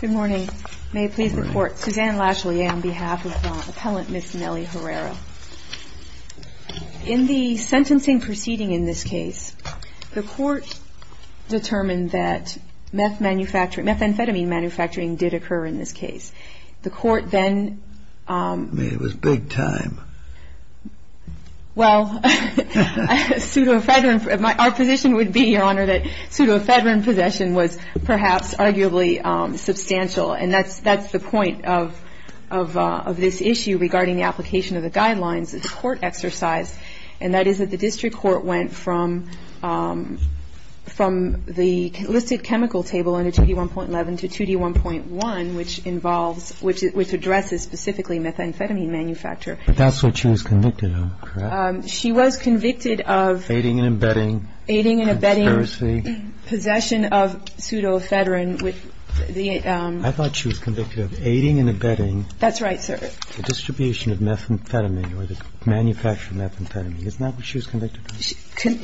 Good morning. May it please the court. Suzanne Lashley on behalf of the appellant Ms. Nellie Herrera. In the sentencing proceeding in this case, the court determined that methamphetamine manufacturing did occur in this case. The court then. I mean, it was big time. Well, pseudoephedrine. Our position would be, Your Honor, that pseudoephedrine possession was perhaps arguably substantial. And that's that's the point of of of this issue regarding the application of the guidelines. It's a court exercise. And that is that the district court went from from the listed chemical table under 2D1.11 to 2D1.1, which involves which addresses specifically methamphetamine manufacture. But that's what she was convicted of, correct? She was convicted of. Aiding and abetting. Aiding and abetting. Conspiracy. Possession of pseudoephedrine with the. I thought she was convicted of aiding and abetting. That's right, sir. The distribution of methamphetamine or the manufacture of methamphetamine. Isn't that what she was convicted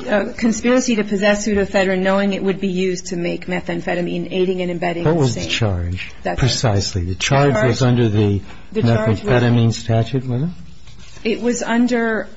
of? Conspiracy to possess pseudoephedrine, knowing it would be used to make methamphetamine, aiding and abetting. What was the charge? Precisely. The charge was under the methamphetamine statute, was it? It was under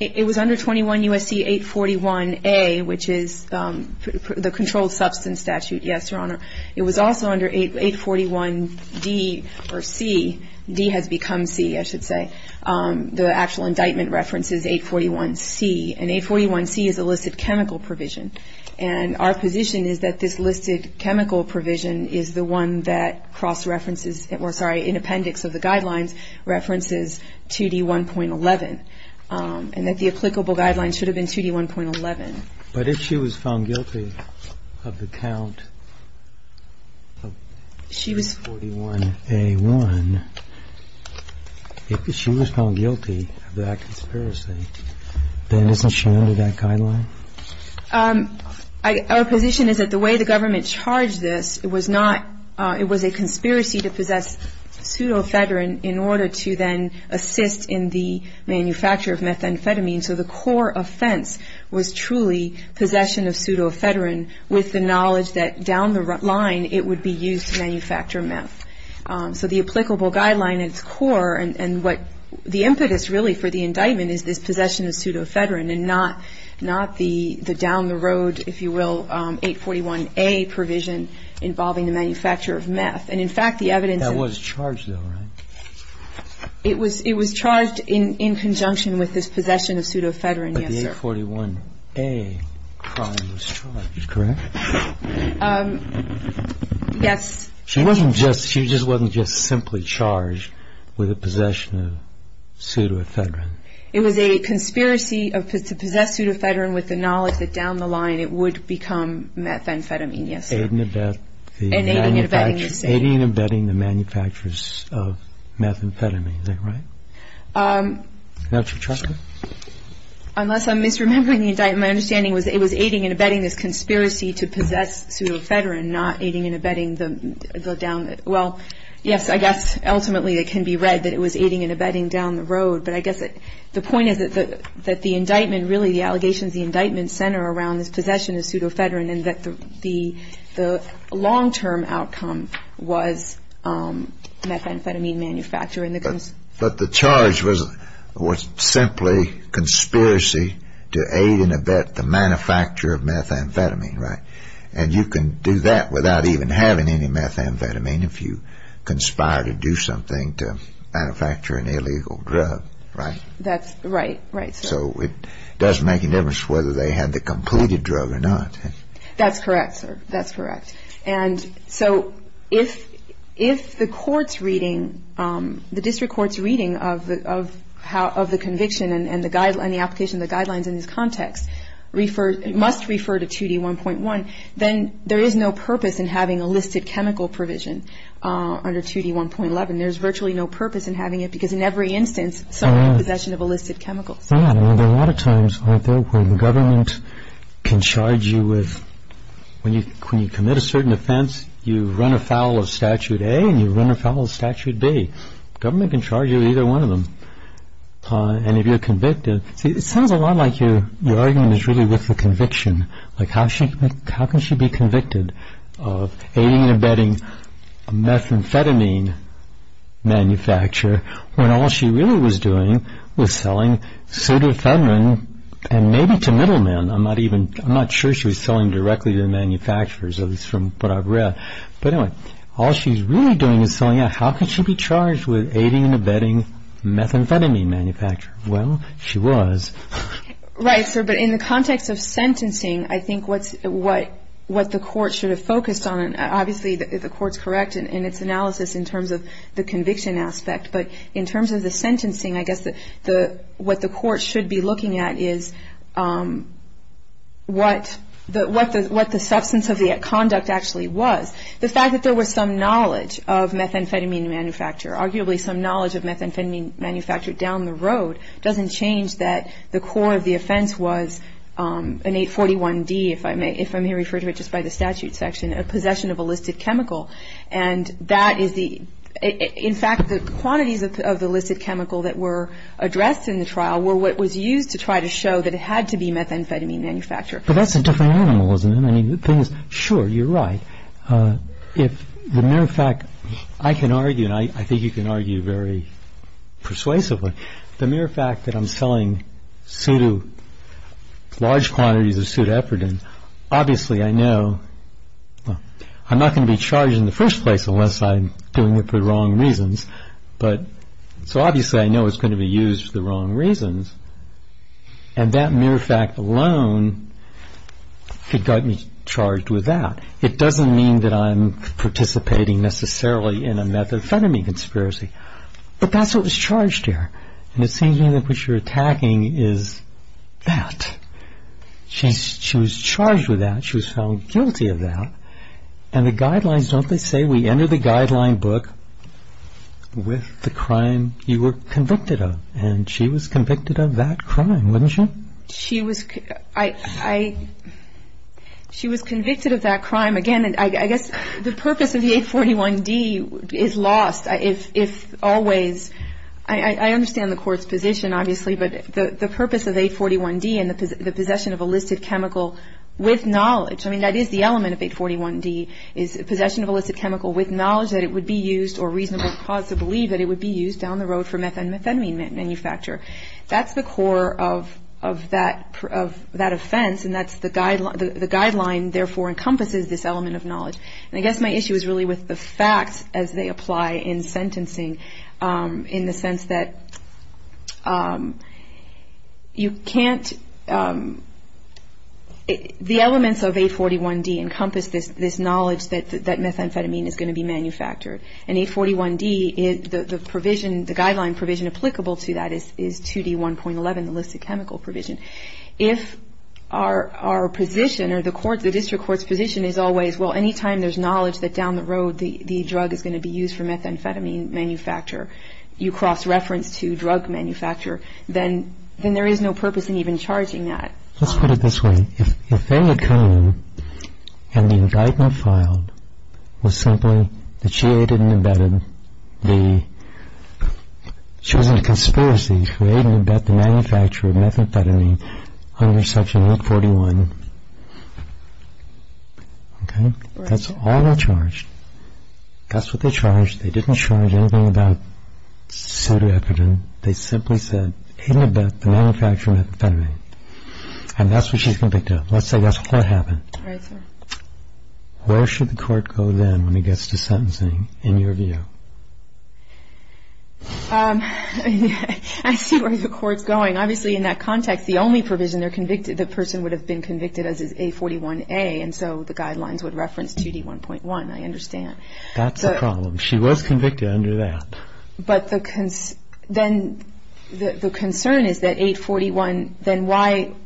it was under 21 U.S.C. 841A, which is the controlled substance statute. Yes, Your Honor. It was also under 841D or C. D has become C, I should say. The actual indictment references 841C. And 841C is illicit chemical provision. And our position is that this listed chemical provision is the one that cross-references or, sorry, in appendix of the guidelines, references 2D1.11. And that the applicable guidelines should have been 2D1.11. But if she was found guilty of the count of 41A1, if she was found guilty of that conspiracy, then isn't she under that guideline? Our position is that the way the government charged this, it was not, it was a conspiracy to possess pseudoephedrine in order to then assist in the manufacture of methamphetamine. So the core offense was truly possession of pseudoephedrine with the knowledge that down the line it would be used to manufacture meth. So the applicable guideline at its core and what the impetus really for the indictment is this possession of pseudoephedrine and not the down-the-road, if you will, 841A provision involving the manufacture of meth. And, in fact, the evidence of That was charged, though, right? It was charged in conjunction with this possession of pseudoephedrine, yes, sir. But the 841A crime was charged, correct? Yes. She just wasn't just simply charged with the possession of pseudoephedrine? It was a conspiracy to possess pseudoephedrine with the knowledge that down the line it would become methamphetamine, yes, sir. Aiding and abetting the manufacturers of methamphetamine, is that right? That's what you're saying? Unless I'm misremembering the indictment, my understanding was it was aiding and abetting this conspiracy to possess pseudoephedrine, not aiding and abetting the down-the-road. Well, yes, I guess ultimately it can be read that it was aiding and abetting down the road, but I guess the point is that the indictment really, the allegations of the indictment, center around this possession of pseudoephedrine and that the long-term outcome was methamphetamine manufacturing. But the charge was simply conspiracy to aid and abet the manufacture of methamphetamine, right? And you can do that without even having any methamphetamine if you conspire to do something to manufacture an illegal drug, right? That's right. Right, sir. So it does make a difference whether they had the completed drug or not. That's correct, sir. That's correct. And so if the court's reading, the district court's reading of the conviction and the application of the guidelines in this context must refer to 2D1.1, then there is no purpose in having a listed chemical provision under 2D1.11. There's virtually no purpose in having it because in every instance someone is in possession of a listed chemical. There are a lot of times, aren't there, where the government can charge you with, when you commit a certain offense, you run afoul of Statute A and you run afoul of Statute B. The government can charge you with either one of them. And if you're convicted, see, it sounds a lot like your argument is really with the conviction, like how can she be convicted of aiding and abetting a methamphetamine manufacturer when all she really was doing was selling sodafenrin, and maybe to middlemen. I'm not sure she was selling directly to the manufacturers, at least from what I've read. But anyway, all she's really doing is selling out. How can she be charged with aiding and abetting a methamphetamine manufacturer? Well, she was. Right, but in the context of sentencing, I think what the court should have focused on, and obviously the court's correct in its analysis in terms of the conviction aspect, but in terms of the sentencing, I guess what the court should be looking at is what the substance of the conduct actually was. The fact that there was some knowledge of methamphetamine manufacturer, arguably some knowledge of methamphetamine manufacturer down the road, doesn't change that the core of the offense was an 841D, if I may refer to it just by the statute section, a possession of illicit chemical. In fact, the quantities of the illicit chemical that were addressed in the trial were what was used to try to show that it had to be methamphetamine manufacturer. But that's a different animal, isn't it? Sure, you're right. As a matter of fact, I can argue, and I think you can argue very persuasively, the mere fact that I'm selling large quantities of pseudoepidermis, obviously I know I'm not going to be charged in the first place unless I'm doing it for the wrong reasons. So obviously I know it's going to be used for the wrong reasons, and that mere fact alone could get me charged with that. It doesn't mean that I'm participating necessarily in a methamphetamine conspiracy, but that's what was charged here. And it seems to me that what you're attacking is that. She was charged with that. She was found guilty of that. And the guidelines, don't they say we enter the guideline book with the crime you were convicted of? And she was convicted of that crime, wasn't she? She was convicted of that crime. Again, I guess the purpose of the 841D is lost, if always. I understand the Court's position, obviously, but the purpose of 841D and the possession of illicit chemical with knowledge, I mean, that is the element of 841D, is possession of illicit chemical with knowledge that it would be used or reasonable cause to believe that it would be used down the road for methamphetamine manufacture. That's the core of that offense, and the guideline, therefore, encompasses this element of knowledge. And I guess my issue is really with the facts as they apply in sentencing in the sense that you can't – the elements of 841D encompass this knowledge that methamphetamine is going to be manufactured. And 841D, the guideline provision applicable to that is 2D1.11, the illicit chemical provision. If our position or the District Court's position is always, well, any time there's knowledge that down the road the drug is going to be used for methamphetamine manufacture, you cross-reference to drug manufacture, then there is no purpose in even charging that. Let's put it this way. If they had come in and the indictment filed was simply that she aided and abetted the – under Section 841, okay? That's all they charged. That's what they charged. They didn't charge anything about pseudo-evident. They simply said, aided and abetted the manufacture of methamphetamine. And that's what she's convicted of. Let's say that's what happened. Where should the Court go then when it gets to sentencing, in your view? I see where the Court's going. Obviously, in that context, the only provision the person would have been convicted of is 841A, and so the guidelines would reference 2D1.1. I understand. That's the problem. She was convicted under that. But the concern is that 841, then why –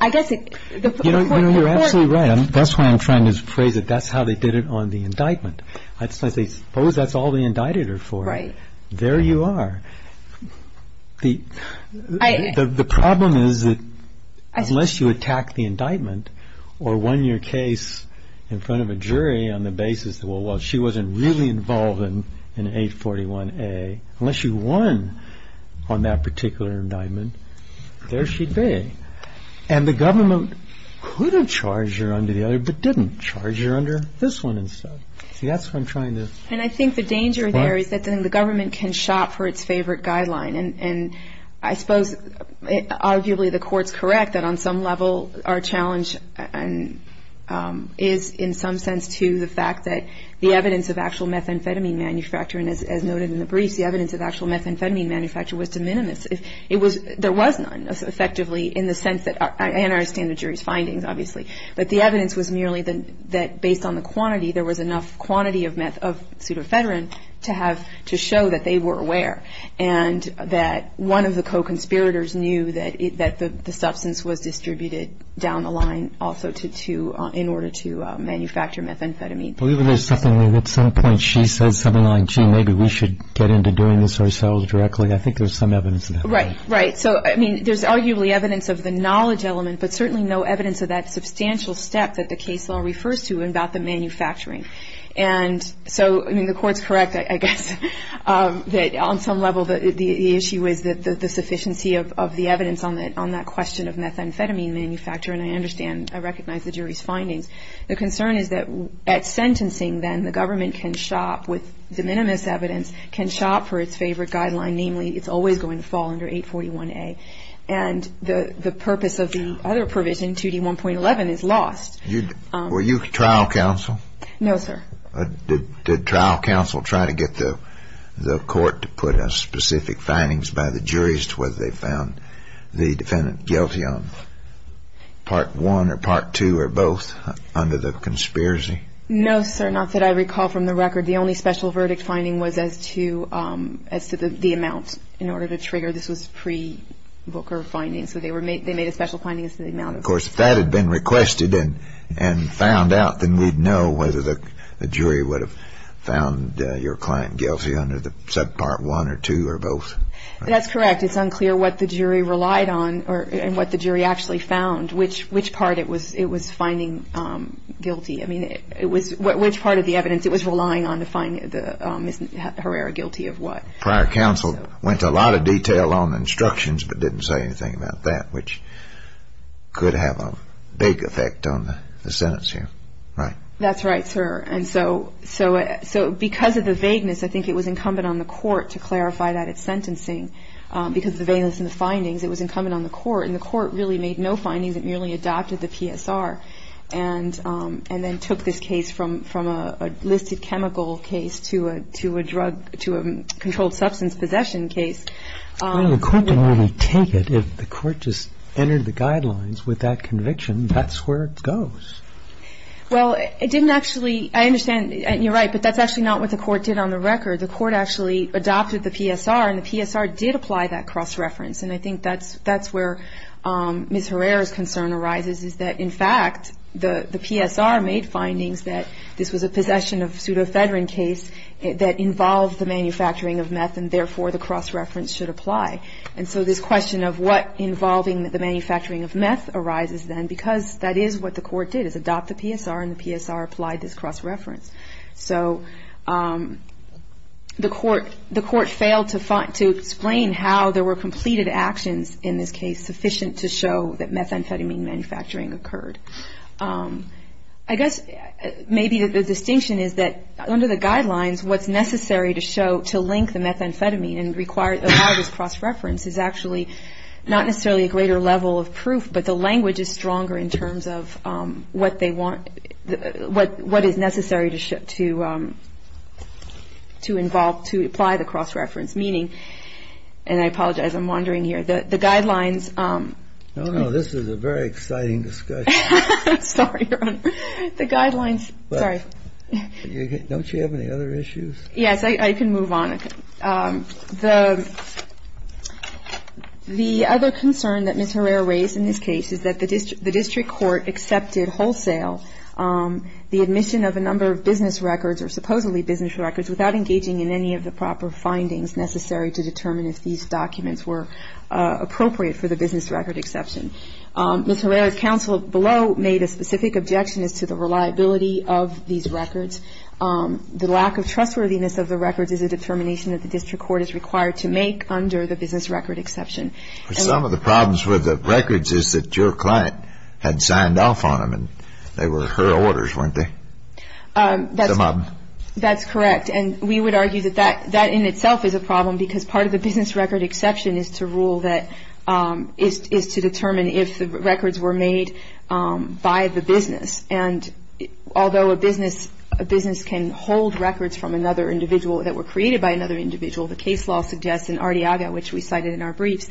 I guess it – You know, you're absolutely right. That's why I'm trying to phrase it. That's how they did it on the indictment. I suppose that's all they indicted her for. Right. There you are. The problem is that unless you attack the indictment or won your case in front of a jury on the basis that, well, she wasn't really involved in 841A, unless you won on that particular indictment, there she'd be. And the government could have charged her under the other, but didn't charge her under this one instead. See, that's what I'm trying to – And I think the danger there is that, then, the government can shop for its favorite guideline, and I suppose arguably the Court's correct that on some level our challenge is, in some sense, to the fact that the evidence of actual methamphetamine manufacturing, as noted in the briefs, the evidence of actual methamphetamine manufacturing was de minimis. There was none, effectively, in the sense that – and I understand the jury's findings, obviously. But the evidence was merely that based on the quantity, there was enough quantity of pseudoephedrine to have – to show that they were aware. And that one of the co-conspirators knew that the substance was distributed down the line also to – in order to manufacture methamphetamine. I believe there's something there. At some point she says something like, gee, maybe we should get into doing this ourselves directly. I think there's some evidence of that. Right, right. So, I mean, there's arguably evidence of the knowledge element, but certainly no evidence of that substantial step that the case law refers to about the manufacturing. And so, I mean, the Court's correct, I guess, that on some level the issue is the sufficiency of the evidence on that question of methamphetamine manufacturing. I understand. I recognize the jury's findings. The concern is that at sentencing, then, the government can shop with de minimis evidence, can shop for its favorite guideline, namely, it's always going to fall under 841A. And the purpose of the other provision, 2D1.11, is lost. Were you trial counsel? No, sir. Did trial counsel try to get the court to put a specific findings by the jury as to whether they found the defendant guilty on Part I or Part II or both under the conspiracy? No, sir. Not that I recall from the record. The only special verdict finding was as to the amount in order to trigger. This was pre-Booker findings. So they made a special finding as to the amount. Of course, if that had been requested and found out, then we'd know whether the jury would have found your client guilty under Part I or Part II or both. That's correct. It's unclear what the jury relied on and what the jury actually found, which part it was finding guilty. I mean, which part of the evidence it was relying on to find Ms. Herrera guilty of what. Prior counsel went to a lot of detail on the instructions but didn't say anything about that, which could have a vague effect on the sentence here, right? That's right, sir. And so because of the vagueness, I think it was incumbent on the court to clarify that at sentencing. Because of the vagueness in the findings, it was incumbent on the court. And the court really made no findings. It merely adopted the PSR and then took this case from a listed chemical case to a drug, to a controlled substance possession case. Well, the court didn't really take it. If the court just entered the guidelines with that conviction, that's where it goes. Well, it didn't actually – I understand, you're right, but that's actually not what the court did on the record. The court actually adopted the PSR, and the PSR did apply that cross-reference. And I think that's where Ms. Herrera's concern arises, is that, in fact, the PSR made findings that this was a possession of pseudothedrine case that involved the manufacturing of meth, and therefore the cross-reference should apply. And so this question of what involving the manufacturing of meth arises then, because that is what the court did, is adopt the PSR, and the PSR applied this cross-reference. So the court failed to explain how there were completed actions in this case sufficient to show that methamphetamine manufacturing occurred. I guess maybe the distinction is that under the guidelines, what's necessary to show – to link the methamphetamine and require – allow this cross-reference is actually not necessarily a greater level of proof, but the language is stronger in terms of what they want – what is necessary to involve – to apply the cross-reference, meaning – and I apologize, I'm wandering here. The guidelines – No, no, this is a very exciting discussion. I'm sorry, Your Honor. The guidelines – sorry. Don't you have any other issues? Yes. I can move on. The other concern that Ms. Herrera raised in this case is that the district court accepted wholesale the admission of a number of business records, or supposedly business records, without engaging in any of the proper findings necessary to determine if these documents were appropriate for the business record exception. Ms. Herrera's counsel below made a specific objection as to the reliability of these records. The lack of trustworthiness of the records is a determination that the district court is required to make under the business record exception. Some of the problems with the records is that your client had signed off on them and they were her orders, weren't they? That's correct. And we would argue that that in itself is a problem because part of the business record exception is to rule that – is to determine if the records were made by the business. And although a business can hold records from another individual that were created by another individual, the case law suggests in Arteaga, which we cited in our briefs,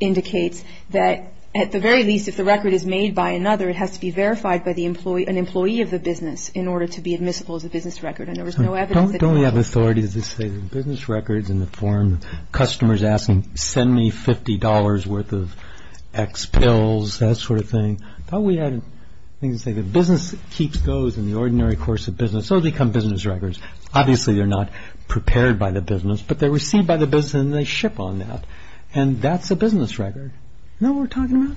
indicates that at the very least if the record is made by another, it has to be verified by an employee of the business in order to be admissible as a business record. And there was no evidence that – Don't we have authorities that say business records in the form of customers asking, send me $50 worth of X pills, that sort of thing. I thought we had things that say the business keeps those in the ordinary course of business. Those become business records. Obviously they're not prepared by the business, but they're received by the business and they ship on that. And that's a business record. You know what we're talking about?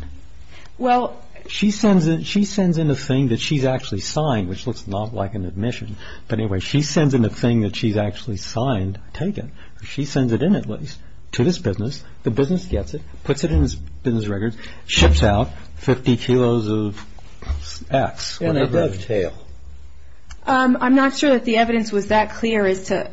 Well, she sends in a thing that she's actually signed, which looks a lot like an admission. But anyway, she sends in a thing that she's actually signed, taken. She sends it in at least to this business. The business gets it, puts it in its business records, ships out 50 kilos of X. And they dovetail. I'm not sure that the evidence was that clear as to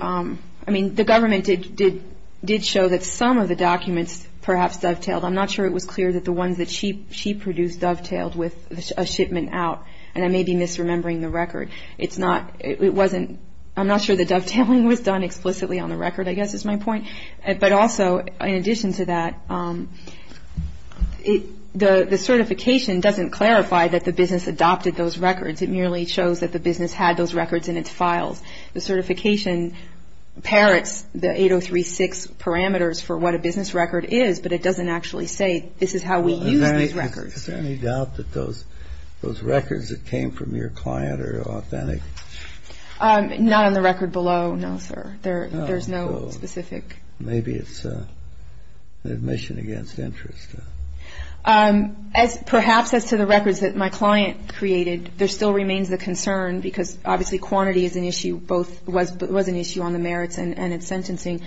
– I mean, the government did show that some of the documents perhaps dovetailed. I'm not sure it was clear that the ones that she produced dovetailed with a shipment out. And I may be misremembering the record. It's not – it wasn't – I'm not sure the dovetailing was done explicitly on the record, I guess is my point. But also, in addition to that, the certification doesn't clarify that the business adopted those records. It merely shows that the business had those records in its files. The certification parrots the 8036 parameters for what a business record is, but it doesn't actually say this is how we use these records. Is there any doubt that those records that came from your client are authentic? Not on the record below, no, sir. There's no specific – Maybe it's an admission against interest. Perhaps as to the records that my client created, there still remains the concern, because obviously quantity is an issue both – was an issue on the merits and its sentencing.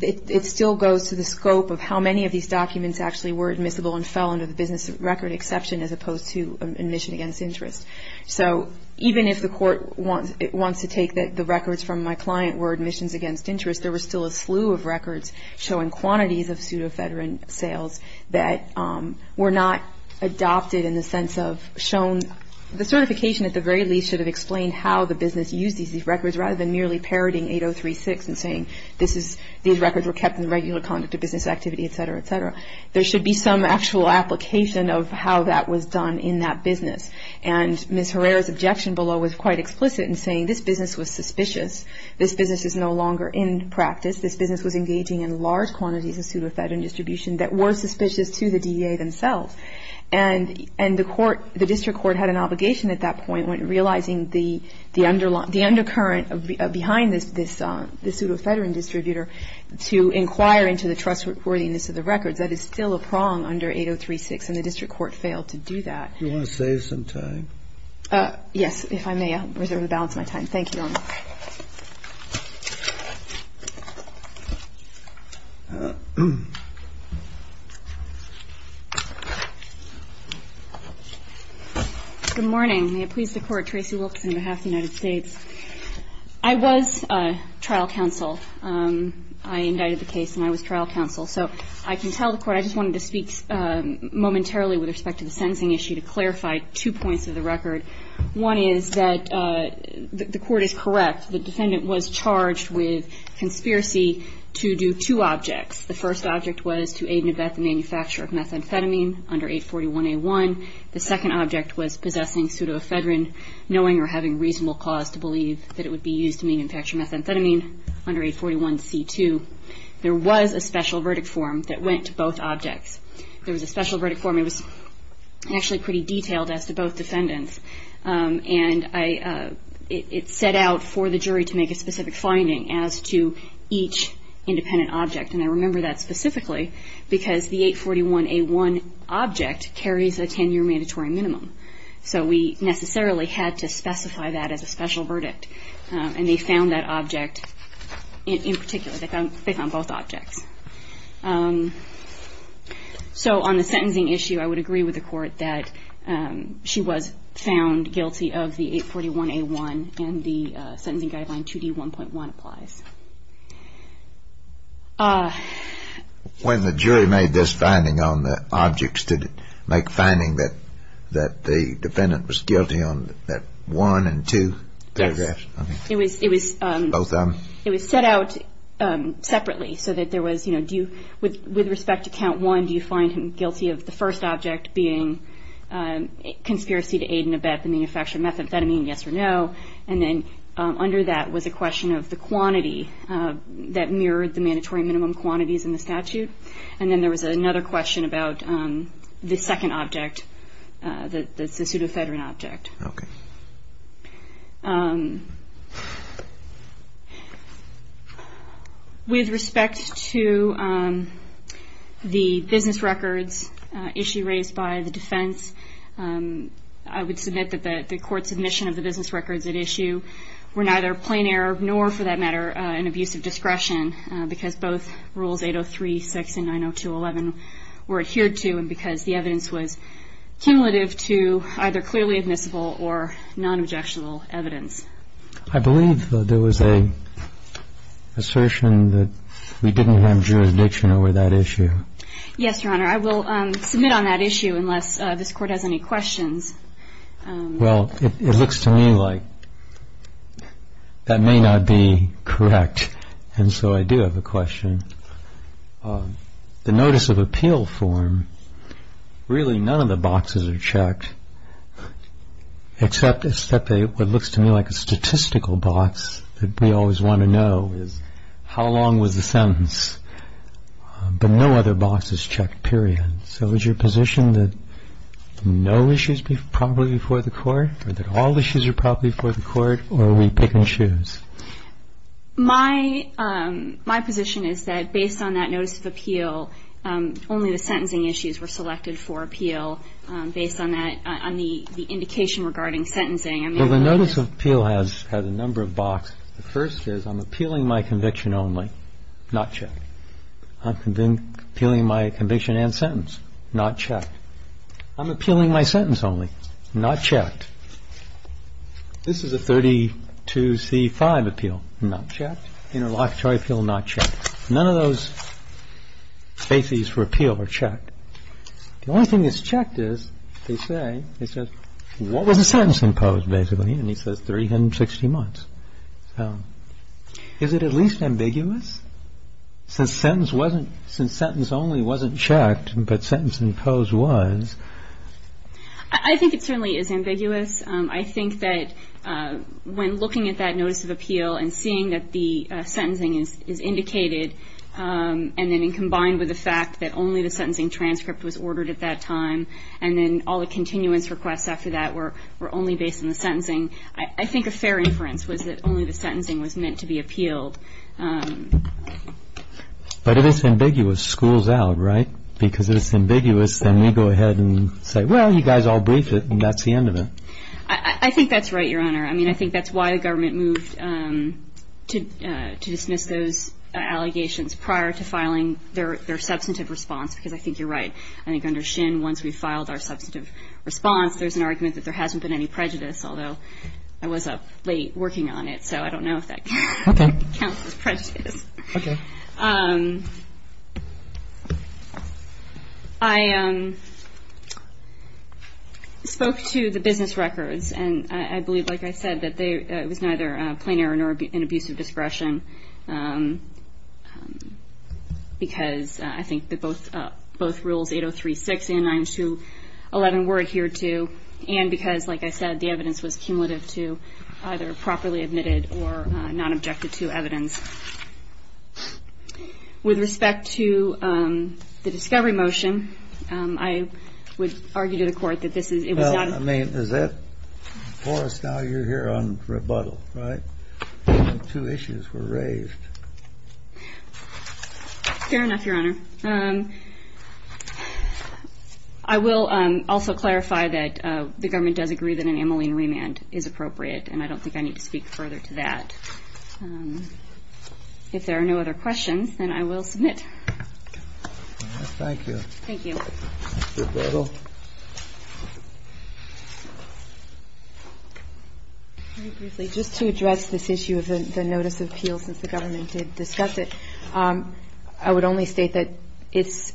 It still goes to the scope of how many of these documents actually were admissible and fell under the business record exception as opposed to admission against interest. So even if the court wants to take that the records from my client were admissions against interest, there was still a slew of records showing quantities of pseudofederant sales that were not adopted in the sense of shown – the certification at the very least should have explained how the business used these records rather than merely parroting 8036 and saying this is – these records were kept in regular conduct of business activity, et cetera, et cetera. There should be some actual application of how that was done in that business. And Ms. Herrera's objection below was quite explicit in saying this business was suspicious. This business is no longer in practice. This business was engaging in large quantities of pseudofederant distribution that were suspicious to the DEA themselves. And the court – the district court had an obligation at that point when realizing the undercurrent behind this pseudofederant distributor to inquire into the trustworthiness of the records. That is still a prong under 8036, and the district court failed to do that. Do you want to save some time? Yes, if I may, I reserve the balance of my time. Thank you, Your Honor. Good morning. May it please the Court, Tracy Wilkes on behalf of the United States. I was trial counsel. I indicted the case, and I was trial counsel. So I can tell the Court I just wanted to speak momentarily with respect to the sentencing issue to clarify two points of the record. One is that the Court is correct. The defendant was charged with conspiracy to do two objects. The first object was to aid and abet the manufacture of methamphetamine under 841A1. The second object was possessing pseudofederant, knowing or having reasonable cause to believe that it would be used to manufacture methamphetamine under 841C2. There was a special verdict form that went to both objects. There was a special verdict form. It was actually pretty detailed as to both defendants. And it set out for the jury to make a specific finding as to each independent object. And I remember that specifically because the 841A1 object carries a 10-year mandatory minimum. So we necessarily had to specify that as a special verdict. And they found that object in particular. They found both objects. So on the sentencing issue, I would agree with the Court that she was found guilty of the 841A1 and the sentencing guideline 2D1.1 applies. When the jury made this finding on the objects, did it make a finding that the defendant was guilty on that one and two paragraphs? Yes. Both of them? It was set out separately so that there was, you know, with respect to Count 1, do you find him guilty of the first object being conspiracy to aid and abet the manufacture of methamphetamine, yes or no? And then under that was a question of the quantity that mirrored the mandatory minimum quantities in the statute. And then there was another question about the second object, the pseudoederant object. Okay. With respect to the business records issue raised by the defense, I would submit that the Court's admission of the business records at issue were neither plain error nor, for that matter, an abuse of discretion, because both Rules 803.6 and 902.11 were adhered to and because the evidence was cumulative to either clearly admissible or nonobjectual evidence. I believe that there was an assertion that we didn't have jurisdiction over that issue. Yes, Your Honor. I will submit on that issue unless this Court has any questions. Well, it looks to me like that may not be correct, and so I do have a question. The notice of appeal form, really none of the boxes are checked, except what looks to me like a statistical box that we always want to know is how long was the sentence, but no other box is checked, period. So is your position that no issues are properly before the Court or that all issues are properly before the Court, or are we picking shoes? My position is that based on that notice of appeal, only the sentencing issues were selected for appeal based on that, on the indication regarding sentencing. Well, the notice of appeal has a number of boxes. The first is I'm appealing my conviction only, not checked. I'm appealing my conviction and sentence, not checked. I'm appealing my sentence only, not checked. This is a 32C5 appeal, not checked. Interlocutory appeal, not checked. None of those bases for appeal are checked. The only thing that's checked is they say, it says, what was the sentence imposed, basically? And he says 360 months. So is it at least ambiguous? Since sentence only wasn't checked, but sentence imposed was. I think it certainly is ambiguous. I think that when looking at that notice of appeal and seeing that the sentencing is indicated and then combined with the fact that only the sentencing transcript was ordered at that time and then all the continuance requests after that were only based on the sentencing, I think a fair inference was that only the sentencing was meant to be appealed. But if it's ambiguous, schools out, right? If it's ambiguous, then we go ahead and say, well, you guys all briefed it, and that's the end of it. I think that's right, Your Honor. I mean, I think that's why the government moved to dismiss those allegations prior to filing their substantive response, because I think you're right. I think under Shin, once we filed our substantive response, there's an argument that there hasn't been any prejudice, although I was up late working on it, so I don't know if that counts as prejudice. Okay. I spoke to the business records, and I believe, like I said, that it was neither plain error nor an abuse of discretion, because I think that both Rules 803.6 and 902.11 were adhered to, and because, like I said, the evidence was cumulative to either properly admitted or not objected to evidence. With respect to the discovery motion, I would argue to the Court that this is not a Well, I mean, is that for us now? You're here on rebuttal, right? Two issues were raised. Fair enough, Your Honor. I will also clarify that the government does agree that an amylene remand is appropriate, and I don't think I need to speak further to that. If there are no other questions, then I will submit. Thank you. Mr. Biddle. Just to address this issue of the notice of appeal, since the government did discuss it, I would only state that it's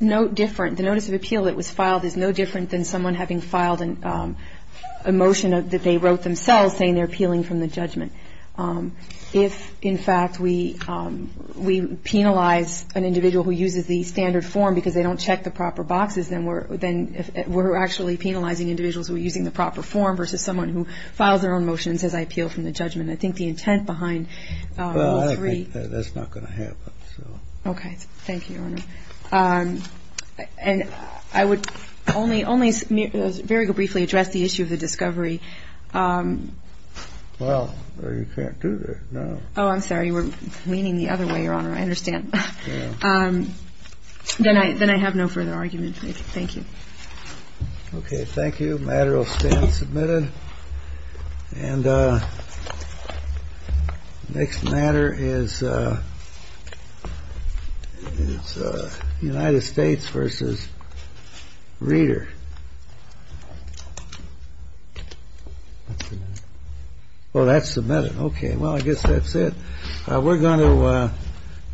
no different. The notice of appeal that was filed is no different than someone having filed a motion that they wrote themselves saying they're appealing from the judgment. If, in fact, we penalize an individual who uses the standard form because they don't check the proper boxes, then we're actually penalizing individuals who are using the proper form versus someone who files their own motion and says, I appeal from the judgment. I think the intent behind Rule 3 That's not going to happen. Okay. Thank you, Your Honor. And I would only very briefly address the issue of the discovery. Well, you can't do that now. Oh, I'm sorry. We're leaning the other way, Your Honor. I understand. Then I have no further argument. Thank you. Okay. Thank you. The matter will stand submitted. And next matter is United States versus Reader. Well, that's submitted. Okay. Well, I guess that's it. We're going to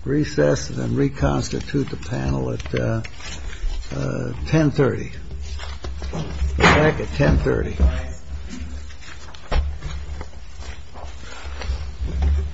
recess and reconstitute the panel at 1030. We'll be back at 1030.